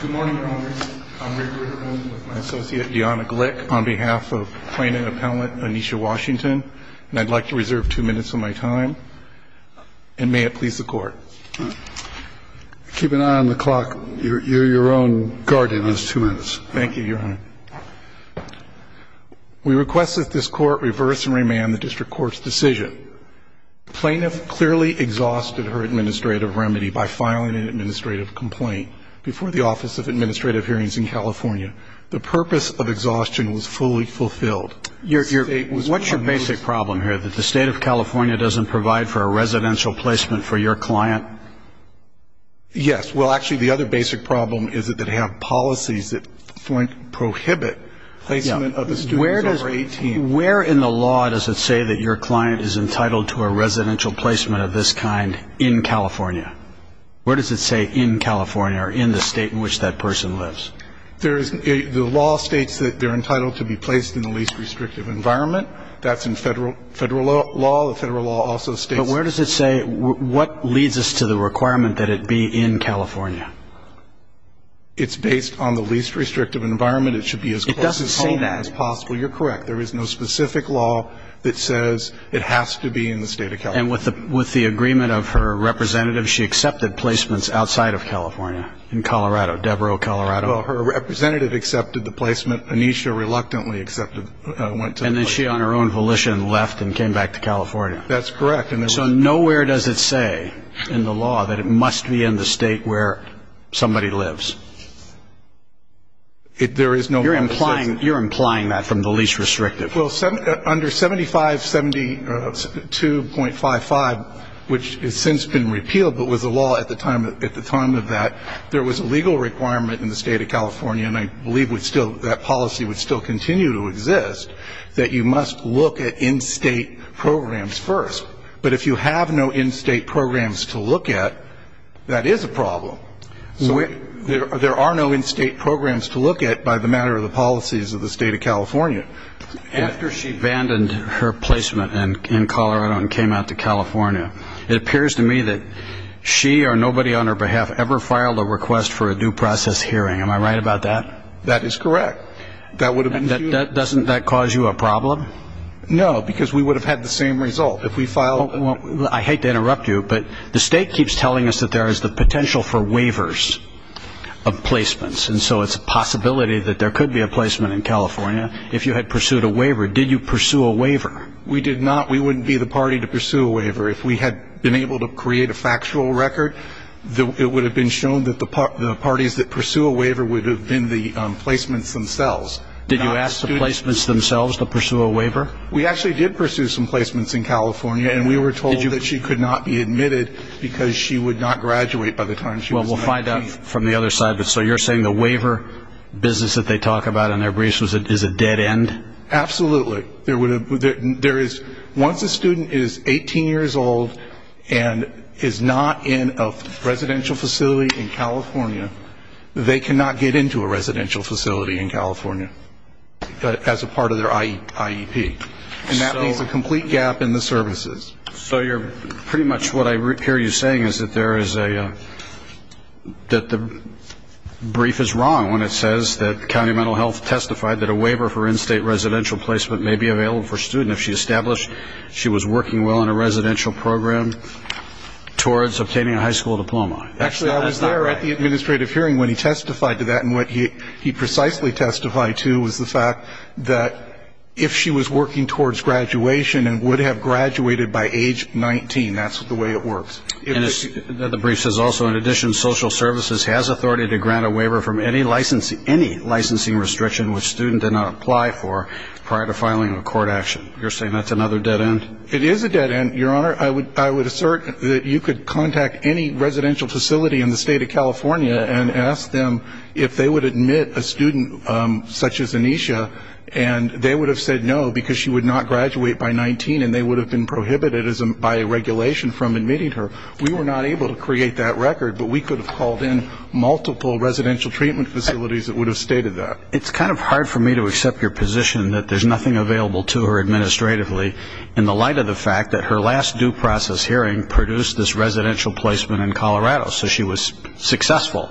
Good morning, Congress. I'm Rick Ritterman with my associate Deanna Glick on behalf of Plaintiff Appellant Anisha Washington, and I'd like to reserve two minutes of my time, and may it please the Court. Keep an eye on the clock. You're your own guardian in those two minutes. Thank you, Your Honor. We request that this Court reverse and remand the District Court's decision. Plaintiff clearly exhausted her administrative remedy by filing an administrative complaint before the Office of Administrative Hearings in California. The purpose of exhaustion was fully fulfilled. What's your basic problem here, that the State of California doesn't provide for a residential placement for your client? Yes. Well, actually, the other basic problem is that they have policies that prohibit placement of a student over 18. Where in the law does it say that your client is entitled to a residential placement of this kind in California? Where does it say in California or in the State in which that person lives? The law states that they're entitled to be placed in the least restrictive environment. That's in Federal law. The Federal law also states... But where does it say what leads us to the requirement that it be in California? It's based on the least restrictive environment. It should be as close as home as possible. You're correct. There is no specific law that says it has to be in the State of California. And with the agreement of her representative, she accepted placements outside of California, in Colorado, Devereux, Colorado? Well, her representative accepted the placement. Anisha reluctantly accepted... And then she, on her own volition, left and came back to California. That's correct. So nowhere does it say in the law that it must be in the State where somebody lives? There is no... You're implying that from the least restrictive. Well, under 7572.55, which has since been repealed but was the law at the time of that, there was a legal requirement in the State of California, and I believe that policy would still continue to exist, that you must look at in-State programs first. But if you have no in-State programs to look at, that is a problem. There are no in-State programs to look at by the matter of the policies of the State of California. After she abandoned her placement in Colorado and came out to California, it appears to me that she or nobody on her behalf ever filed a request for a due process hearing. Am I right about that? That is correct. Doesn't that cause you a problem? No, because we would have had the same result if we filed... I hate to interrupt you, but the State keeps telling us that there is the potential for waivers of placements, and so it's a possibility that there could be a placement in California. If you had pursued a waiver, did you pursue a waiver? We did not. We wouldn't be the party to pursue a waiver. If we had been able to create a factual record, it would have been shown that the parties that pursue a waiver would have been the placements themselves. Did you ask the placements themselves to pursue a waiver? We actually did pursue some placements in California, and we were told that she could not be admitted because she would not graduate by the time she was 19. Well, we'll find out from the other side. So you're saying the waiver business that they talk about on their briefs is a dead end? Absolutely. Once a student is 18 years old and is not in a residential facility in California, they cannot get into a residential facility in California as a part of their IEP, and that leaves a complete gap in the services. So pretty much what I hear you saying is that the brief is wrong when it says that county mental health testified that a waiver for in-state residential placement may be available for a student if she established she was working well in a residential program towards obtaining a high school diploma. Actually, I was there at the administrative hearing when he testified to that, and what he precisely testified to was the fact that if she was working towards graduation and would have graduated by age 19, that's the way it works. And the brief says also, in addition, social services has authority to grant a waiver from any licensing restriction which student did not apply for prior to filing a court action. You're saying that's another dead end? It is a dead end, Your Honor. Your Honor, I would assert that you could contact any residential facility in the state of California and ask them if they would admit a student such as Aneesha, and they would have said no because she would not graduate by 19 and they would have been prohibited by regulation from admitting her. We were not able to create that record, but we could have called in multiple residential treatment facilities that would have stated that. It's kind of hard for me to accept your position that there's nothing available to her administratively in the light of the fact that her last due process hearing produced this residential placement in Colorado, so she was successful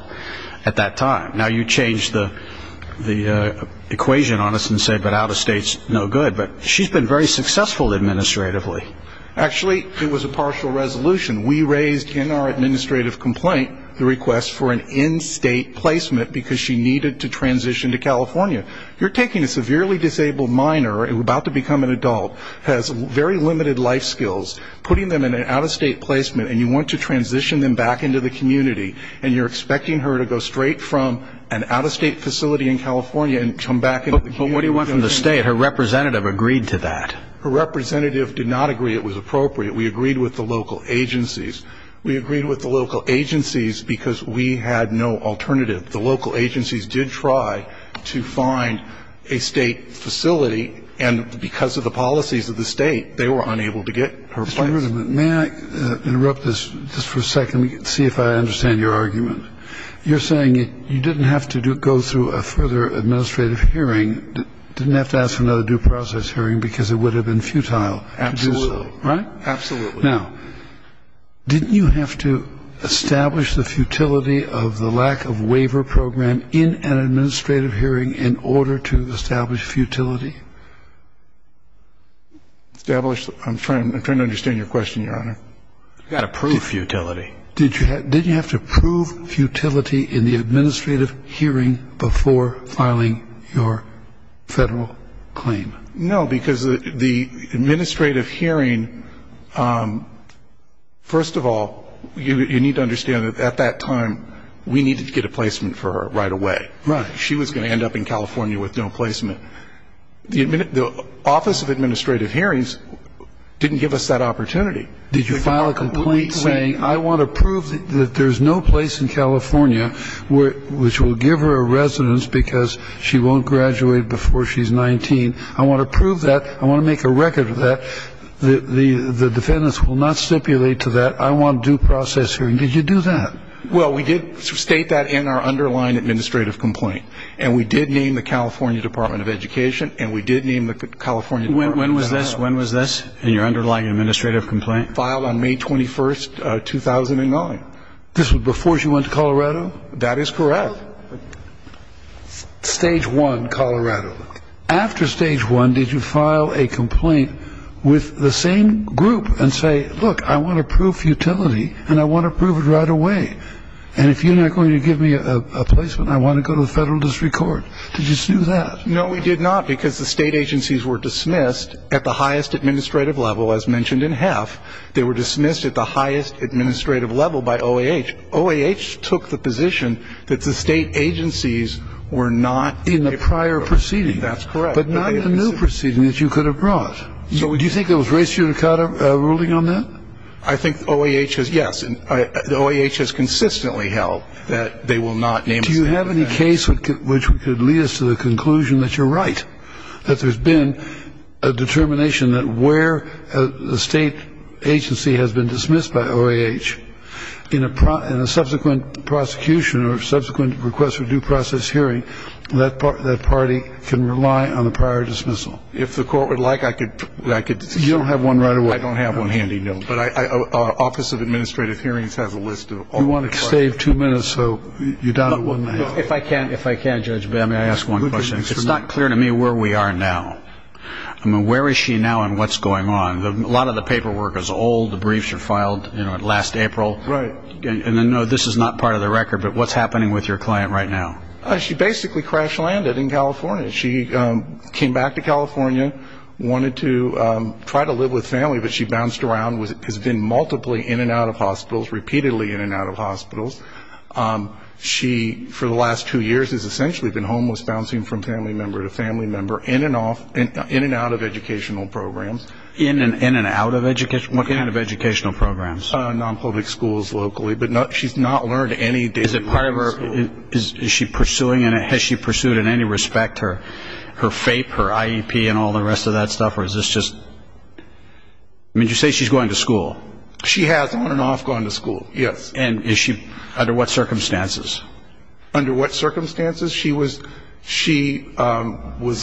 at that time. Now, you changed the equation on us and said that out-of-state is no good, but she's been very successful administratively. Actually, it was a partial resolution. We raised in our administrative complaint the request for an in-state placement because she needed to transition to California. You're taking a severely disabled minor about to become an adult, has very limited life skills, putting them in an out-of-state placement and you want to transition them back into the community and you're expecting her to go straight from an out-of-state facility in California and come back into the community. But what do you want from the state? Her representative agreed to that. Her representative did not agree it was appropriate. We agreed with the local agencies. We agreed with the local agencies because we had no alternative. The local agencies did try to find a state facility and because of the policies of the state, they were unable to get her place. Mr. Ruderman, may I interrupt this just for a second to see if I understand your argument? You're saying you didn't have to go through a further administrative hearing, didn't have to ask for another due process hearing because it would have been futile to do so. Absolutely. Right? Absolutely. Now, didn't you have to establish the futility of the lack of waiver program in an administrative hearing in order to establish futility? Establish? I'm trying to understand your question, Your Honor. You've got to prove futility. Did you have to prove futility in the administrative hearing before filing your federal claim? No, because the administrative hearing, first of all, you need to understand that at that time we needed to get a placement for her right away. Right. She was going to end up in California with no placement. The Office of Administrative Hearings didn't give us that opportunity. Did you file a complaint saying I want to prove that there's no place in California which will give her a residence because she won't graduate before she's 19? I want to prove that. I want to make a record of that. The defendants will not stipulate to that. I want due process hearing. Did you do that? Well, we did state that in our underlying administrative complaint, and we did name the California Department of Education, and we did name the California Department of Health. When was this? When was this in your underlying administrative complaint? Filed on May 21, 2009. This was before she went to Colorado? That is correct. Stage one, Colorado. After stage one, did you file a complaint with the same group and say, look, I want to prove futility, and I want to prove it right away, and if you're not going to give me a placement, I want to go to the federal district court? Did you do that? No, we did not because the state agencies were dismissed at the highest administrative level, as mentioned in HEF. They were dismissed at the highest administrative level by OAH. OAH took the position that the state agencies were not in the prior proceeding. That's correct. But not in the new proceeding that you could have brought. So do you think there was res judicata ruling on that? I think OAH has, yes. OAH has consistently held that they will not name the state. Do you have any case which could lead us to the conclusion that you're right, that there's been a determination that where the state agency has been dismissed by OAH, in a subsequent prosecution or subsequent request for due process hearing, that party can rely on the prior dismissal? If the court would like, I could do that. You don't have one right away? I don't have one handy, no. But our Office of Administrative Hearings has a list of all the questions. We want to save two minutes, so you're down to one minute. If I can, Judge Bamley, I ask one question. It's not clear to me where we are now. I mean, where is she now and what's going on? A lot of the paperwork is old. The briefs are filed, you know, last April. Right. And I know this is not part of the record, but what's happening with your client right now? She basically crash-landed in California. She came back to California, wanted to try to live with family, but she bounced around, has been multiple in and out of hospitals, repeatedly in and out of hospitals. She, for the last two years, has essentially been homeless, bouncing from family member to family member, in and out of educational programs. In and out of education? What kind of educational programs? Non-public schools locally. But she's not learned anything. Is it part of her, is she pursuing, has she pursued in any respect her FAPE, her IEP, and all the rest of that stuff, or is this just, I mean, you say she's going to school. She has on and off gone to school, yes. And is she, under what circumstances? Under what circumstances? She was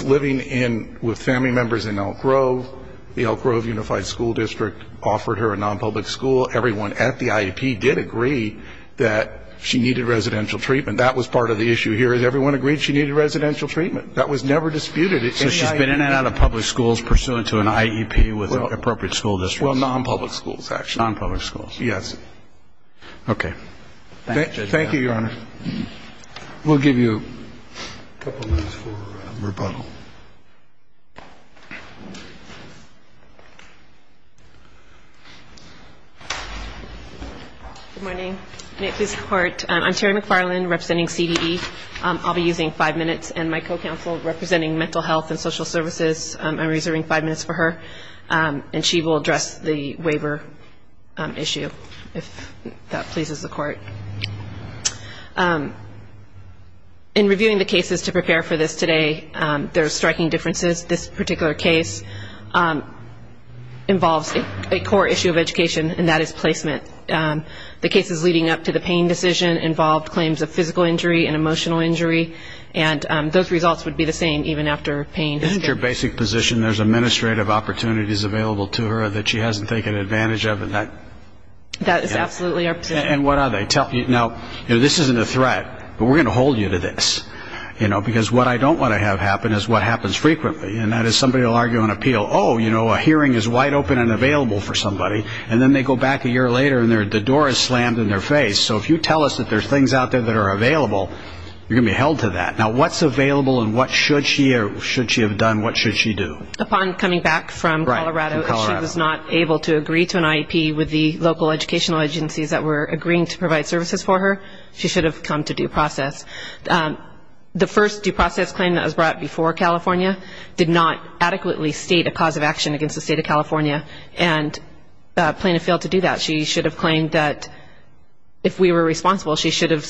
living with family members in Elk Grove. The Elk Grove Unified School District offered her a non-public school. Everyone at the IEP did agree that she needed residential treatment. That was part of the issue here. Everyone agreed she needed residential treatment. That was never disputed. So she's been in and out of public schools pursuant to an IEP with an appropriate school district. Well, non-public schools, actually. Non-public schools. Yes. Okay. Thank you, Your Honor. We'll give you a couple minutes for rebuttal. Good morning. May it please the Court. I'm Terry McFarland representing CDE. I'll be using five minutes. And my co-counsel representing mental health and social services, I'm reserving five minutes for her. And she will address the waiver issue. If that pleases the Court. In reviewing the cases to prepare for this today, there are striking differences. This particular case involves a core issue of education, and that is placement. The cases leading up to the pain decision involved claims of physical injury and emotional injury. And those results would be the same even after pain. Isn't your basic position there's administrative opportunities available to her that she hasn't taken advantage of That is absolutely our position. And what are they? Now, this isn't a threat, but we're going to hold you to this. Because what I don't want to have happen is what happens frequently, and that is somebody will argue on appeal, oh, you know, a hearing is wide open and available for somebody, and then they go back a year later and the door is slammed in their face. So if you tell us that there's things out there that are available, you're going to be held to that. Now, what's available and what should she have done, what should she do? Upon coming back from Colorado, she was not able to agree to an IEP with the local educational agencies that were agreeing to provide services for her. She should have come to due process. The first due process claim that was brought before California did not adequately state a cause of action against the state of California and plaintiff failed to do that. She should have claimed that if we were responsible, she should have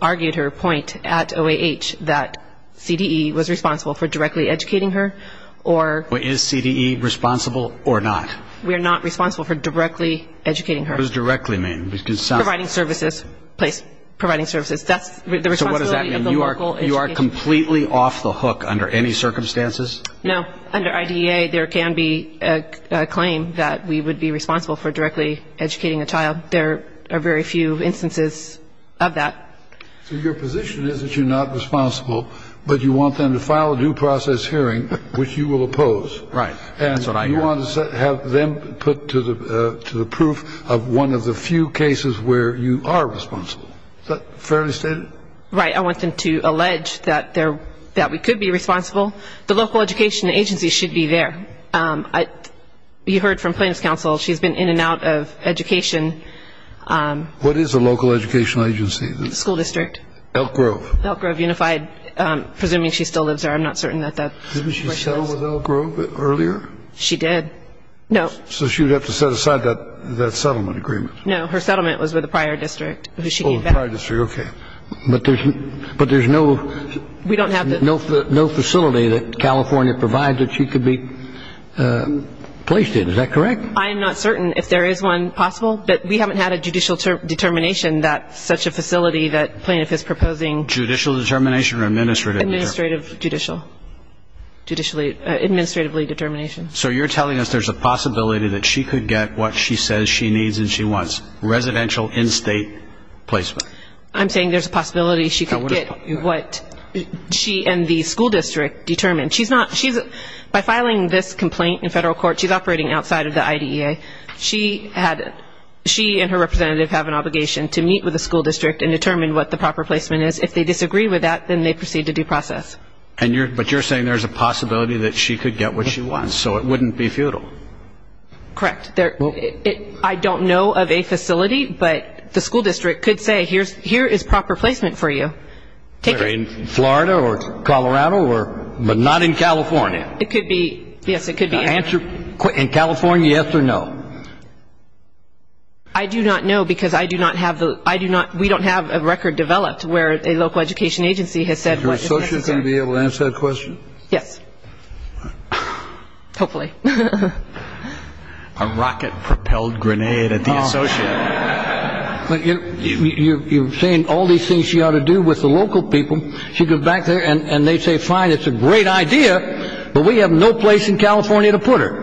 argued her point at OAH that CDE was responsible for directly educating her, or... Is CDE responsible or not? We are not responsible for directly educating her. What does directly mean? Providing services, providing services. So what does that mean? You are completely off the hook under any circumstances? No. Under IDEA, there can be a claim that we would be responsible for directly educating a child. There are very few instances of that. So your position is that you're not responsible, but you want them to file a due process hearing, which you will oppose. Right. That's what I heard. And you want to have them put to the proof of one of the few cases where you are responsible. Is that fairly stated? Right. I want them to allege that we could be responsible. The local education agency should be there. You heard from plaintiff's counsel. She's been in and out of education. What is a local education agency? Elk Grove. Elk Grove Unified. Presuming she still lives there. I'm not certain that that's where she lives. Didn't she settle with Elk Grove earlier? She did. No. So she would have to set aside that settlement agreement. No, her settlement was with a prior district. Oh, a prior district. Okay. But there's no facility that California provides that she could be placed in. Is that correct? I am not certain if there is one possible, but we haven't had a judicial determination that such a facility that plaintiff is proposing. Judicial determination or administrative determination? Administrative judicial. Administratively determination. So you're telling us there's a possibility that she could get what she says she needs and she wants, residential in-state placement. I'm saying there's a possibility she could get what she and the school district determined. By filing this complaint in federal court, she's operating outside of the IDEA. She and her representative have an obligation to meet with the school district and determine what the proper placement is. If they disagree with that, then they proceed to due process. But you're saying there's a possibility that she could get what she wants, so it wouldn't be futile. Correct. I don't know of a facility, but the school district could say, here is proper placement for you. In Florida or Colorado, but not in California? It could be. Yes, it could be. In California, yes or no? I do not know because we don't have a record developed where a local education agency has said what is necessary. Is your associate going to be able to answer that question? Hopefully. A rocket-propelled grenade at the associate. You're saying all these things she ought to do with the local people. She goes back there and they say, fine, it's a great idea, but we have no place in California to put her.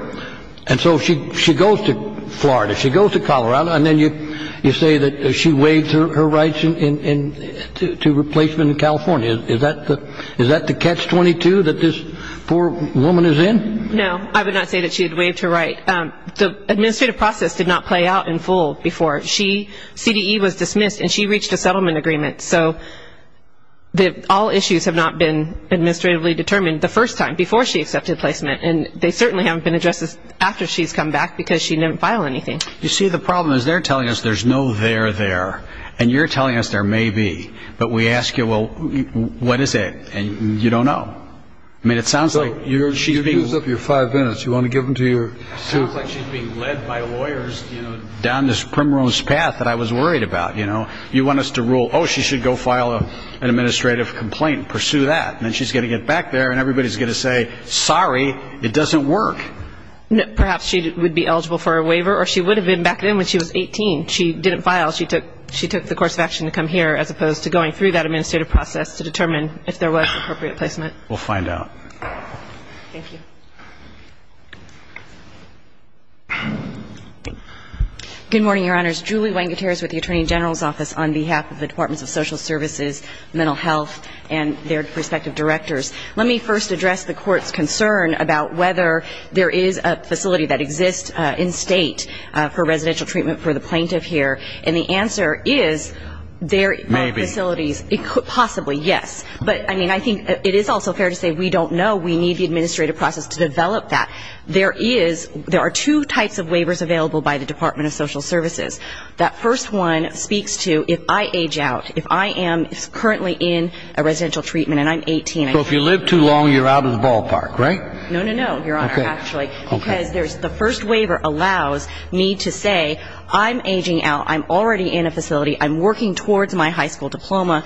And so she goes to Florida, she goes to Colorado, and then you say that she waived her rights to replacement in California. Is that the catch-22 that this poor woman is in? No, I would not say that she had waived her right. The administrative process did not play out in full before. She, CDE, was dismissed and she reached a settlement agreement. So all issues have not been administratively determined the first time, before she accepted placement. And they certainly haven't been addressed after she's come back because she didn't file anything. You see, the problem is they're telling us there's no there there. And you're telling us there may be. But we ask you, well, what is it? And you don't know. I mean, it sounds like she's being ---- It sounds like she's being led by lawyers down this primrose path that I was worried about, you know. You want us to rule, oh, she should go file an administrative complaint and pursue that. And then she's going to get back there and everybody's going to say, sorry, it doesn't work. Perhaps she would be eligible for a waiver or she would have been back then when she was 18. She didn't file. She took the course of action to come here as opposed to going through that administrative process to determine if there was appropriate placement. We'll find out. Thank you. Good morning, Your Honors. Julie Wangeteers with the Attorney General's Office on behalf of the Departments of Social Services, Mental Health, and their respective directors. Let me first address the Court's concern about whether there is a facility that exists in state for residential treatment for the plaintiff here. And the answer is there are facilities. Maybe. Possibly, yes. But, I mean, I think it is also fair to say we don't know. We need the administrative process to develop that. There are two types of waivers available by the Department of Social Services. That first one speaks to if I age out, if I am currently in a residential treatment and I'm 18. So if you live too long, you're out of the ballpark, right? No, no, no, Your Honor, actually. Because the first waiver allows me to say I'm aging out, I'm already in a facility, I'm working towards my high school diploma,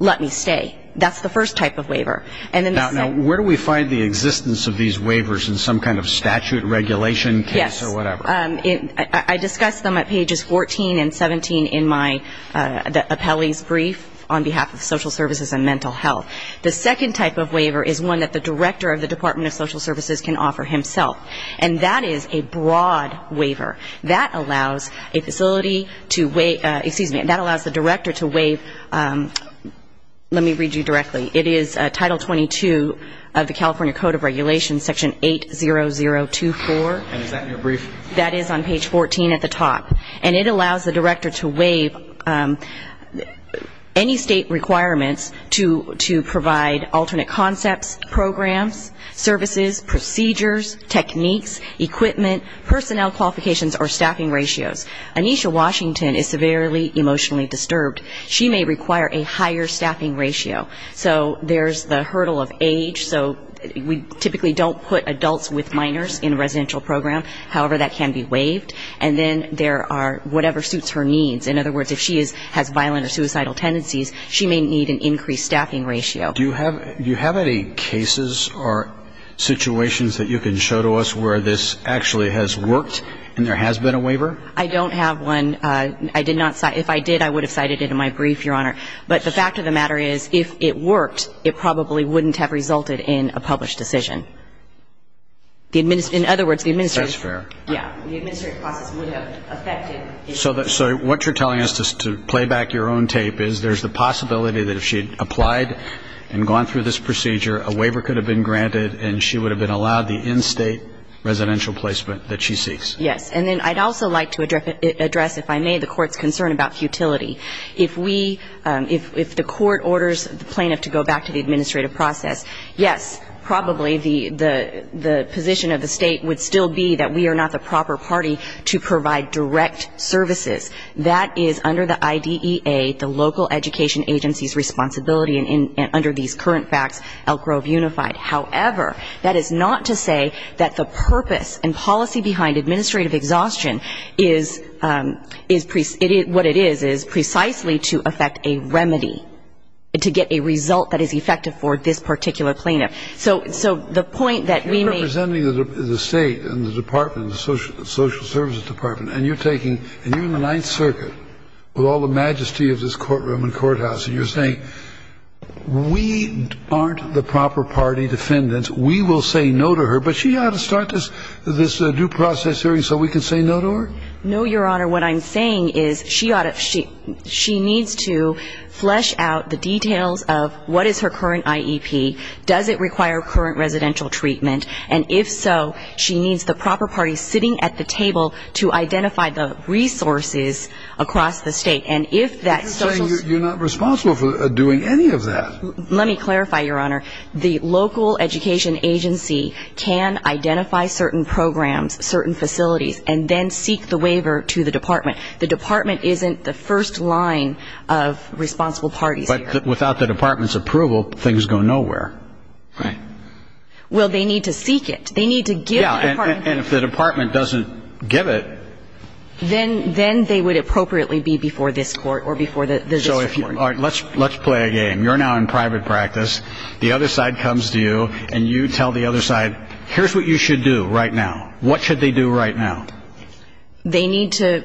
let me stay. That's the first type of waiver. Now, where do we find the existence of these waivers in some kind of statute regulation case or whatever? Yes. I discussed them at pages 14 and 17 in my appellee's brief on behalf of Social Services and Mental Health. The second type of waiver is one that the director of the Department of Social Services can offer himself. And that is a broad waiver. That allows a facility to waive, excuse me, that allows the director to waive, let me read you directly. It is Title 22 of the California Code of Regulations, Section 80024. And is that in your brief? That is on page 14 at the top. And it allows the director to waive any state requirements to provide alternate concepts, programs, services, procedures, techniques, equipment, personnel qualifications or staffing ratios. Anisha Washington is severely emotionally disturbed. She may require a higher staffing ratio. So there's the hurdle of age. So we typically don't put adults with minors in a residential program. However, that can be waived. And then there are whatever suits her needs. In other words, if she has violent or suicidal tendencies, she may need an increased staffing ratio. Do you have any cases or situations that you can show to us where this actually has worked and there has been a waiver? I don't have one. If I did, I would have cited it in my brief, Your Honor. But the fact of the matter is, if it worked, it probably wouldn't have resulted in a published decision. In other words, the administrative process would have affected it. So what you're telling us, to play back your own tape, is there's the possibility that if she had applied and gone through this procedure, a waiver could have been granted and she would have been allowed the in-state residential placement that she seeks. Yes. And then I'd also like to address, if I may, the Court's concern about futility. If the Court orders the plaintiff to go back to the administrative process, yes, probably the position of the State would still be that we are not the proper party to provide direct services. That is under the IDEA, the local education agency's responsibility, and under these current facts, Elk Grove Unified. However, that is not to say that the purpose and policy behind administrative exhaustion is what it is, is precisely to affect a remedy, to get a result that is effective for this particular plaintiff. So the point that we may – You're representing the State and the Department, the Social Services Department, and you're taking – and you're in the Ninth Circuit with all the majesty of this courtroom and courthouse, and you're saying we aren't the proper party defendants, we will say no to her, but she ought to start this due process hearing so we can say no to her? No, Your Honor. What I'm saying is she needs to flesh out the details of what is her current IEP, does it require current residential treatment, and if so, she needs the proper party sitting at the table to identify the resources across the State. And if that Social – You're saying you're not responsible for doing any of that. Let me clarify, Your Honor. The local education agency can identify certain programs, certain facilities, and then seek the waiver to the Department. The Department isn't the first line of responsible parties here. But without the Department's approval, things go nowhere. Right. Well, they need to seek it. They need to give the Department – Yeah, and if the Department doesn't give it – then they would appropriately be before this court or before the district court. All right. Let's play a game. You're now in private practice. The other side comes to you, and you tell the other side, here's what you should do right now. What should they do right now? They need to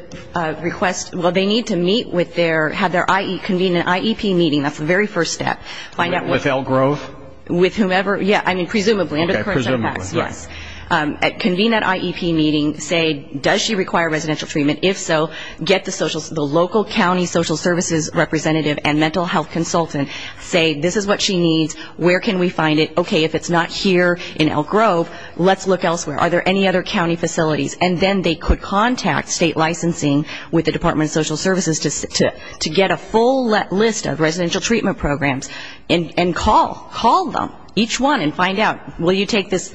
request – well, they need to meet with their – convene an IEP meeting, that's the very first step. With Elk Grove? With whomever – yeah, I mean, presumably. Okay, presumably. Yes. Convene that IEP meeting. Say, does she require residential treatment? If so, get the local county social services representative and mental health consultant. Say, this is what she needs. Where can we find it? Okay, if it's not here in Elk Grove, let's look elsewhere. Are there any other county facilities? And then they could contact state licensing with the Department of Social Services to get a full list of residential treatment programs and call them, each one, and find out, will you take this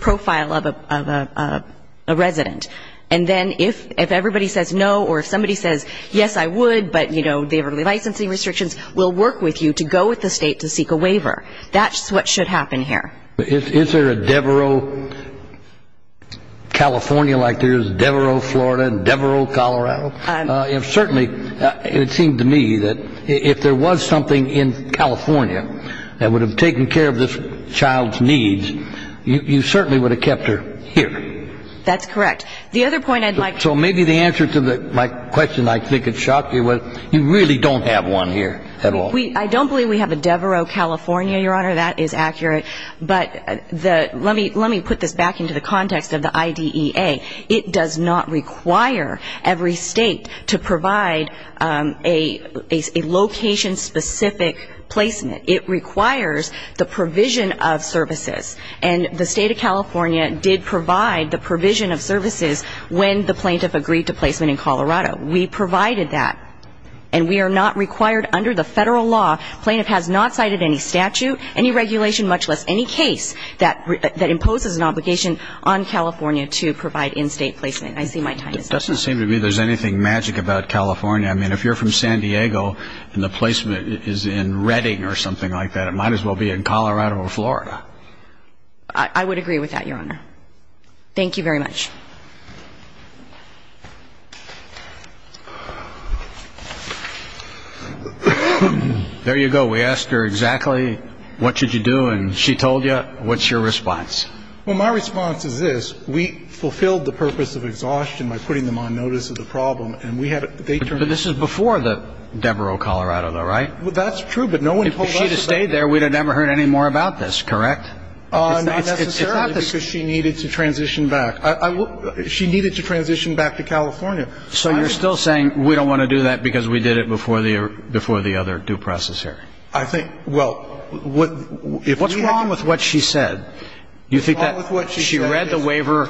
profile of a resident? And then if everybody says no, or if somebody says, yes, I would, but, you know, they have licensing restrictions, we'll work with you to go with the state to seek a waiver. That's what should happen here. Is there a Devereaux, California like there is, Devereaux, Florida, and Devereaux, Colorado? Certainly, it seemed to me that if there was something in California that would have taken care of this child's needs, you certainly would have kept her here. That's correct. The other point I'd like to make. So maybe the answer to my question, I think it shocked you, was you really don't have one here at all. I don't believe we have a Devereaux, California, Your Honor, that is accurate. But let me put this back into the context of the IDEA. It does not require every state to provide a location-specific placement. It requires the provision of services. And the State of California did provide the provision of services when the plaintiff agreed to placement in Colorado. We provided that. And we are not required under the federal law, plaintiff has not cited any statute, any regulation, much less any case that imposes an obligation on California to provide in-state placement. I see my time is up. It doesn't seem to me there's anything magic about California. I mean, if you're from San Diego and the placement is in Redding or something like that, it might as well be in Colorado or Florida. I would agree with that, Your Honor. Thank you very much. There you go. We asked her exactly what should you do, and she told you. What's your response? Well, my response is this. We fulfilled the purpose of exhaustion by putting them on notice of the problem, and we have a date for it. But this is before the Devereux, Colorado, though, right? That's true, but no one told us about it. If she had stayed there, we would have never heard any more about this, correct? Not necessarily, because she needed to transition back. She needed to transition back to California. So you're still saying we don't want to do that because we did it before the other due process hearing? I think, well, if we can't do it. What's wrong with what she said? You think that she read the waiver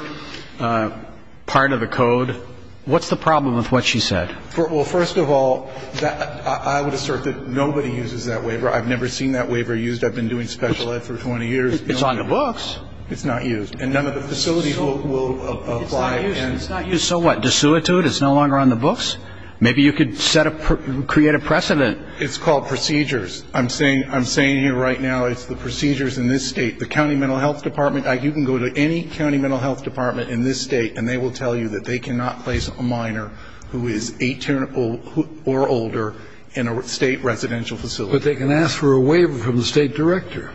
part of the code? What's the problem with what she said? Well, first of all, I would assert that nobody uses that waiver. I've never seen that waiver used. I've been doing special ed for 20 years. It's on the books. It's not used. And none of the facilities will apply. It's not used. So what, to sue it to it? It's no longer on the books? Maybe you could create a precedent. It's called procedures. I'm saying here right now it's the procedures in this state. The county mental health department, you can go to any county mental health department in this state, and they will tell you that they cannot place a minor who is 18 or older in a state residential facility. But they can ask for a waiver from the state director.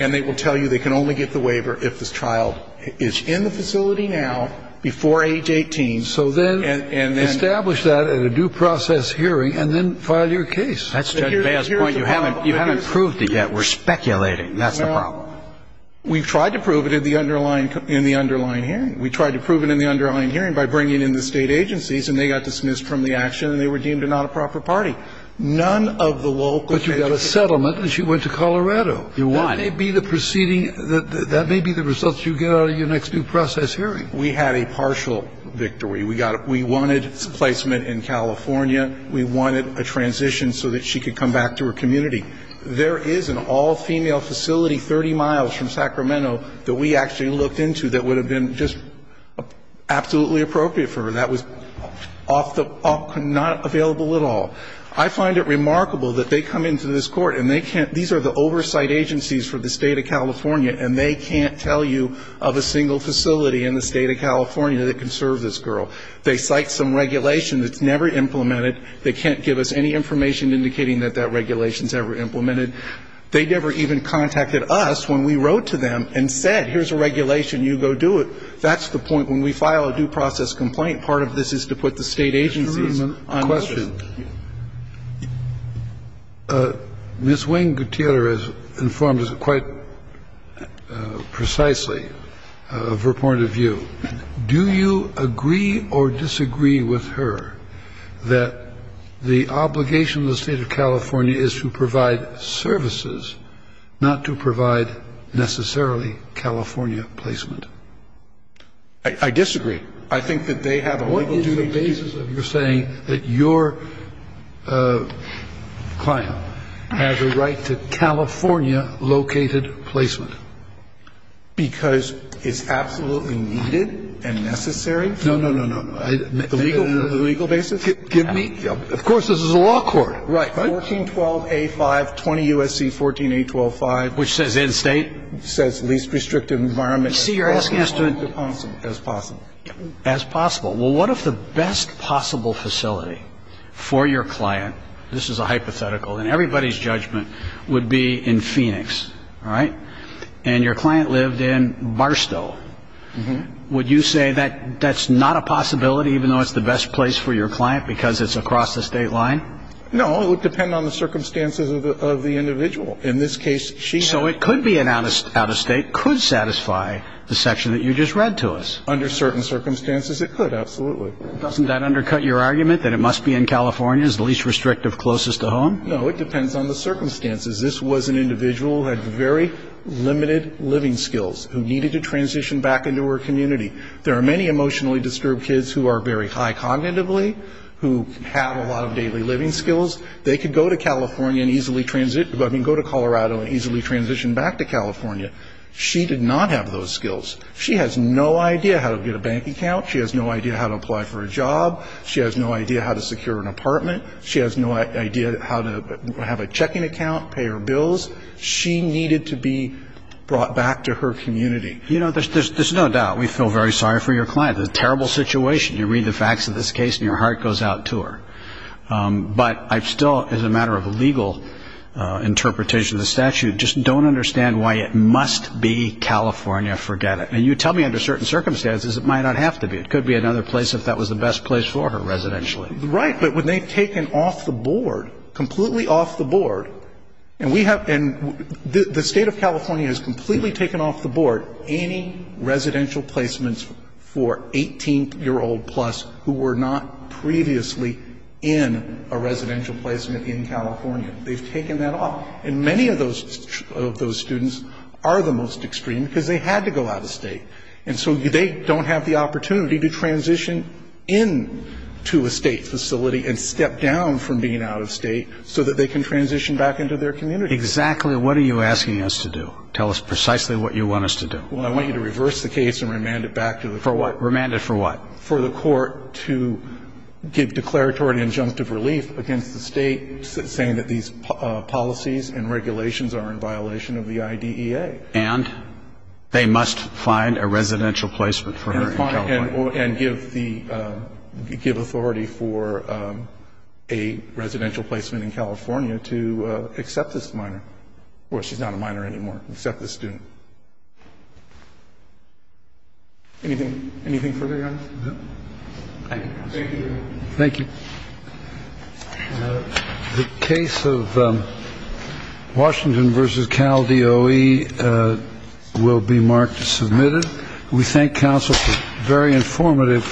And they will tell you they can only get the waiver if the child is in the facility now, before age 18. So then establish that at a due process hearing and then file your case. That's Judge Baez's point. You haven't proved it yet. We're speculating. That's the problem. Well, we've tried to prove it in the underlying hearing. We tried to prove it in the underlying hearing by bringing in the state agencies, and they got dismissed from the action, and they were deemed a not-a-proper party. None of the local cases ---- But you've got a settlement, and she went to Colorado. You're right. That may be the proceeding. That may be the result you get out of your next due process hearing. We had a partial victory. We wanted placement in California. We wanted a transition so that she could come back to her community. There is an all-female facility 30 miles from Sacramento that we actually looked into that would have been just absolutely appropriate for her. That was off the ---- not available at all. I find it remarkable that they come into this Court and they can't ---- these are the oversight agencies for the State of California, and they can't tell you of a single facility in the State of California that can serve this girl. They cite some regulation that's never implemented. They can't give us any information indicating that that regulation's ever implemented. They never even contacted us when we wrote to them and said, here's a regulation, you go do it. That's the point. When we file a due process complaint, part of this is to put the State agencies on notice. Mr. Rootman, a question. Do you agree or disagree with her that the obligation of the State of California is to provide services, not to provide necessarily California placement? I disagree. I think that they have a legal duty to do that. What is the basis of your saying that your client has a right to California-located placement? Because it's absolutely needed and necessary? No, no, no, no. The legal basis? Give me ---- of course, this is a law court. Right. 1412A5, 20 U.S.C. 14825. Which says in State? Says least restrictive environment as possible. As possible. As possible. Well, what if the best possible facility for your client, this is a hypothetical, and everybody's judgment would be in Phoenix, all right? And your client lived in Barstow. Would you say that that's not a possibility even though it's the best place for your client because it's across the State line? No, it would depend on the circumstances of the individual. In this case, she had ---- So it could be an out-of-State, could satisfy the section that you just read to us. Under certain circumstances, it could, absolutely. Doesn't that undercut your argument that it must be in California, the least restrictive closest to home? No, it depends on the circumstances. This was an individual who had very limited living skills, who needed to transition back into her community. There are many emotionally disturbed kids who are very high cognitively, who have a lot of daily living skills. They could go to California and easily ---- I mean, go to Colorado and easily transition back to California. She did not have those skills. She has no idea how to get a bank account. She has no idea how to apply for a job. She has no idea how to secure an apartment. She has no idea how to have a checking account, pay her bills. She needed to be brought back to her community. You know, there's no doubt we feel very sorry for your client. It's a terrible situation. You read the facts of this case and your heart goes out to her. But I still, as a matter of legal interpretation of the statute, just don't understand why it must be California. Forget it. And you tell me under certain circumstances it might not have to be. It could be another place if that was the best place for her residentially. Right, but when they've taken off the board, completely off the board, and we have been ---- the State of California has completely taken off the board any residential placements for 18-year-old plus who were not previously in a residential placement in California. They've taken that off. And many of those students are the most extreme because they had to go out of state. And so they don't have the opportunity to transition into a state facility and step down from being out of state so that they can transition back into their community. Exactly what are you asking us to do? Tell us precisely what you want us to do. Well, I want you to reverse the case and remand it back to the court. For what? Remand it for what? For the court to give declaratory injunctive relief against the state saying that these policies and regulations are in violation of the IDEA. And they must find a residential placement for her in California. And give the ---- give authority for a residential placement in California to accept this minor. Well, she's not a minor anymore. Except the student. Anything further, Your Honor? No. Thank you. Thank you. Thank you. The case of Washington v. Cal DOE will be marked as submitted. We thank counsel for a very informative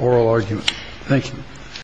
oral argument. Thank you.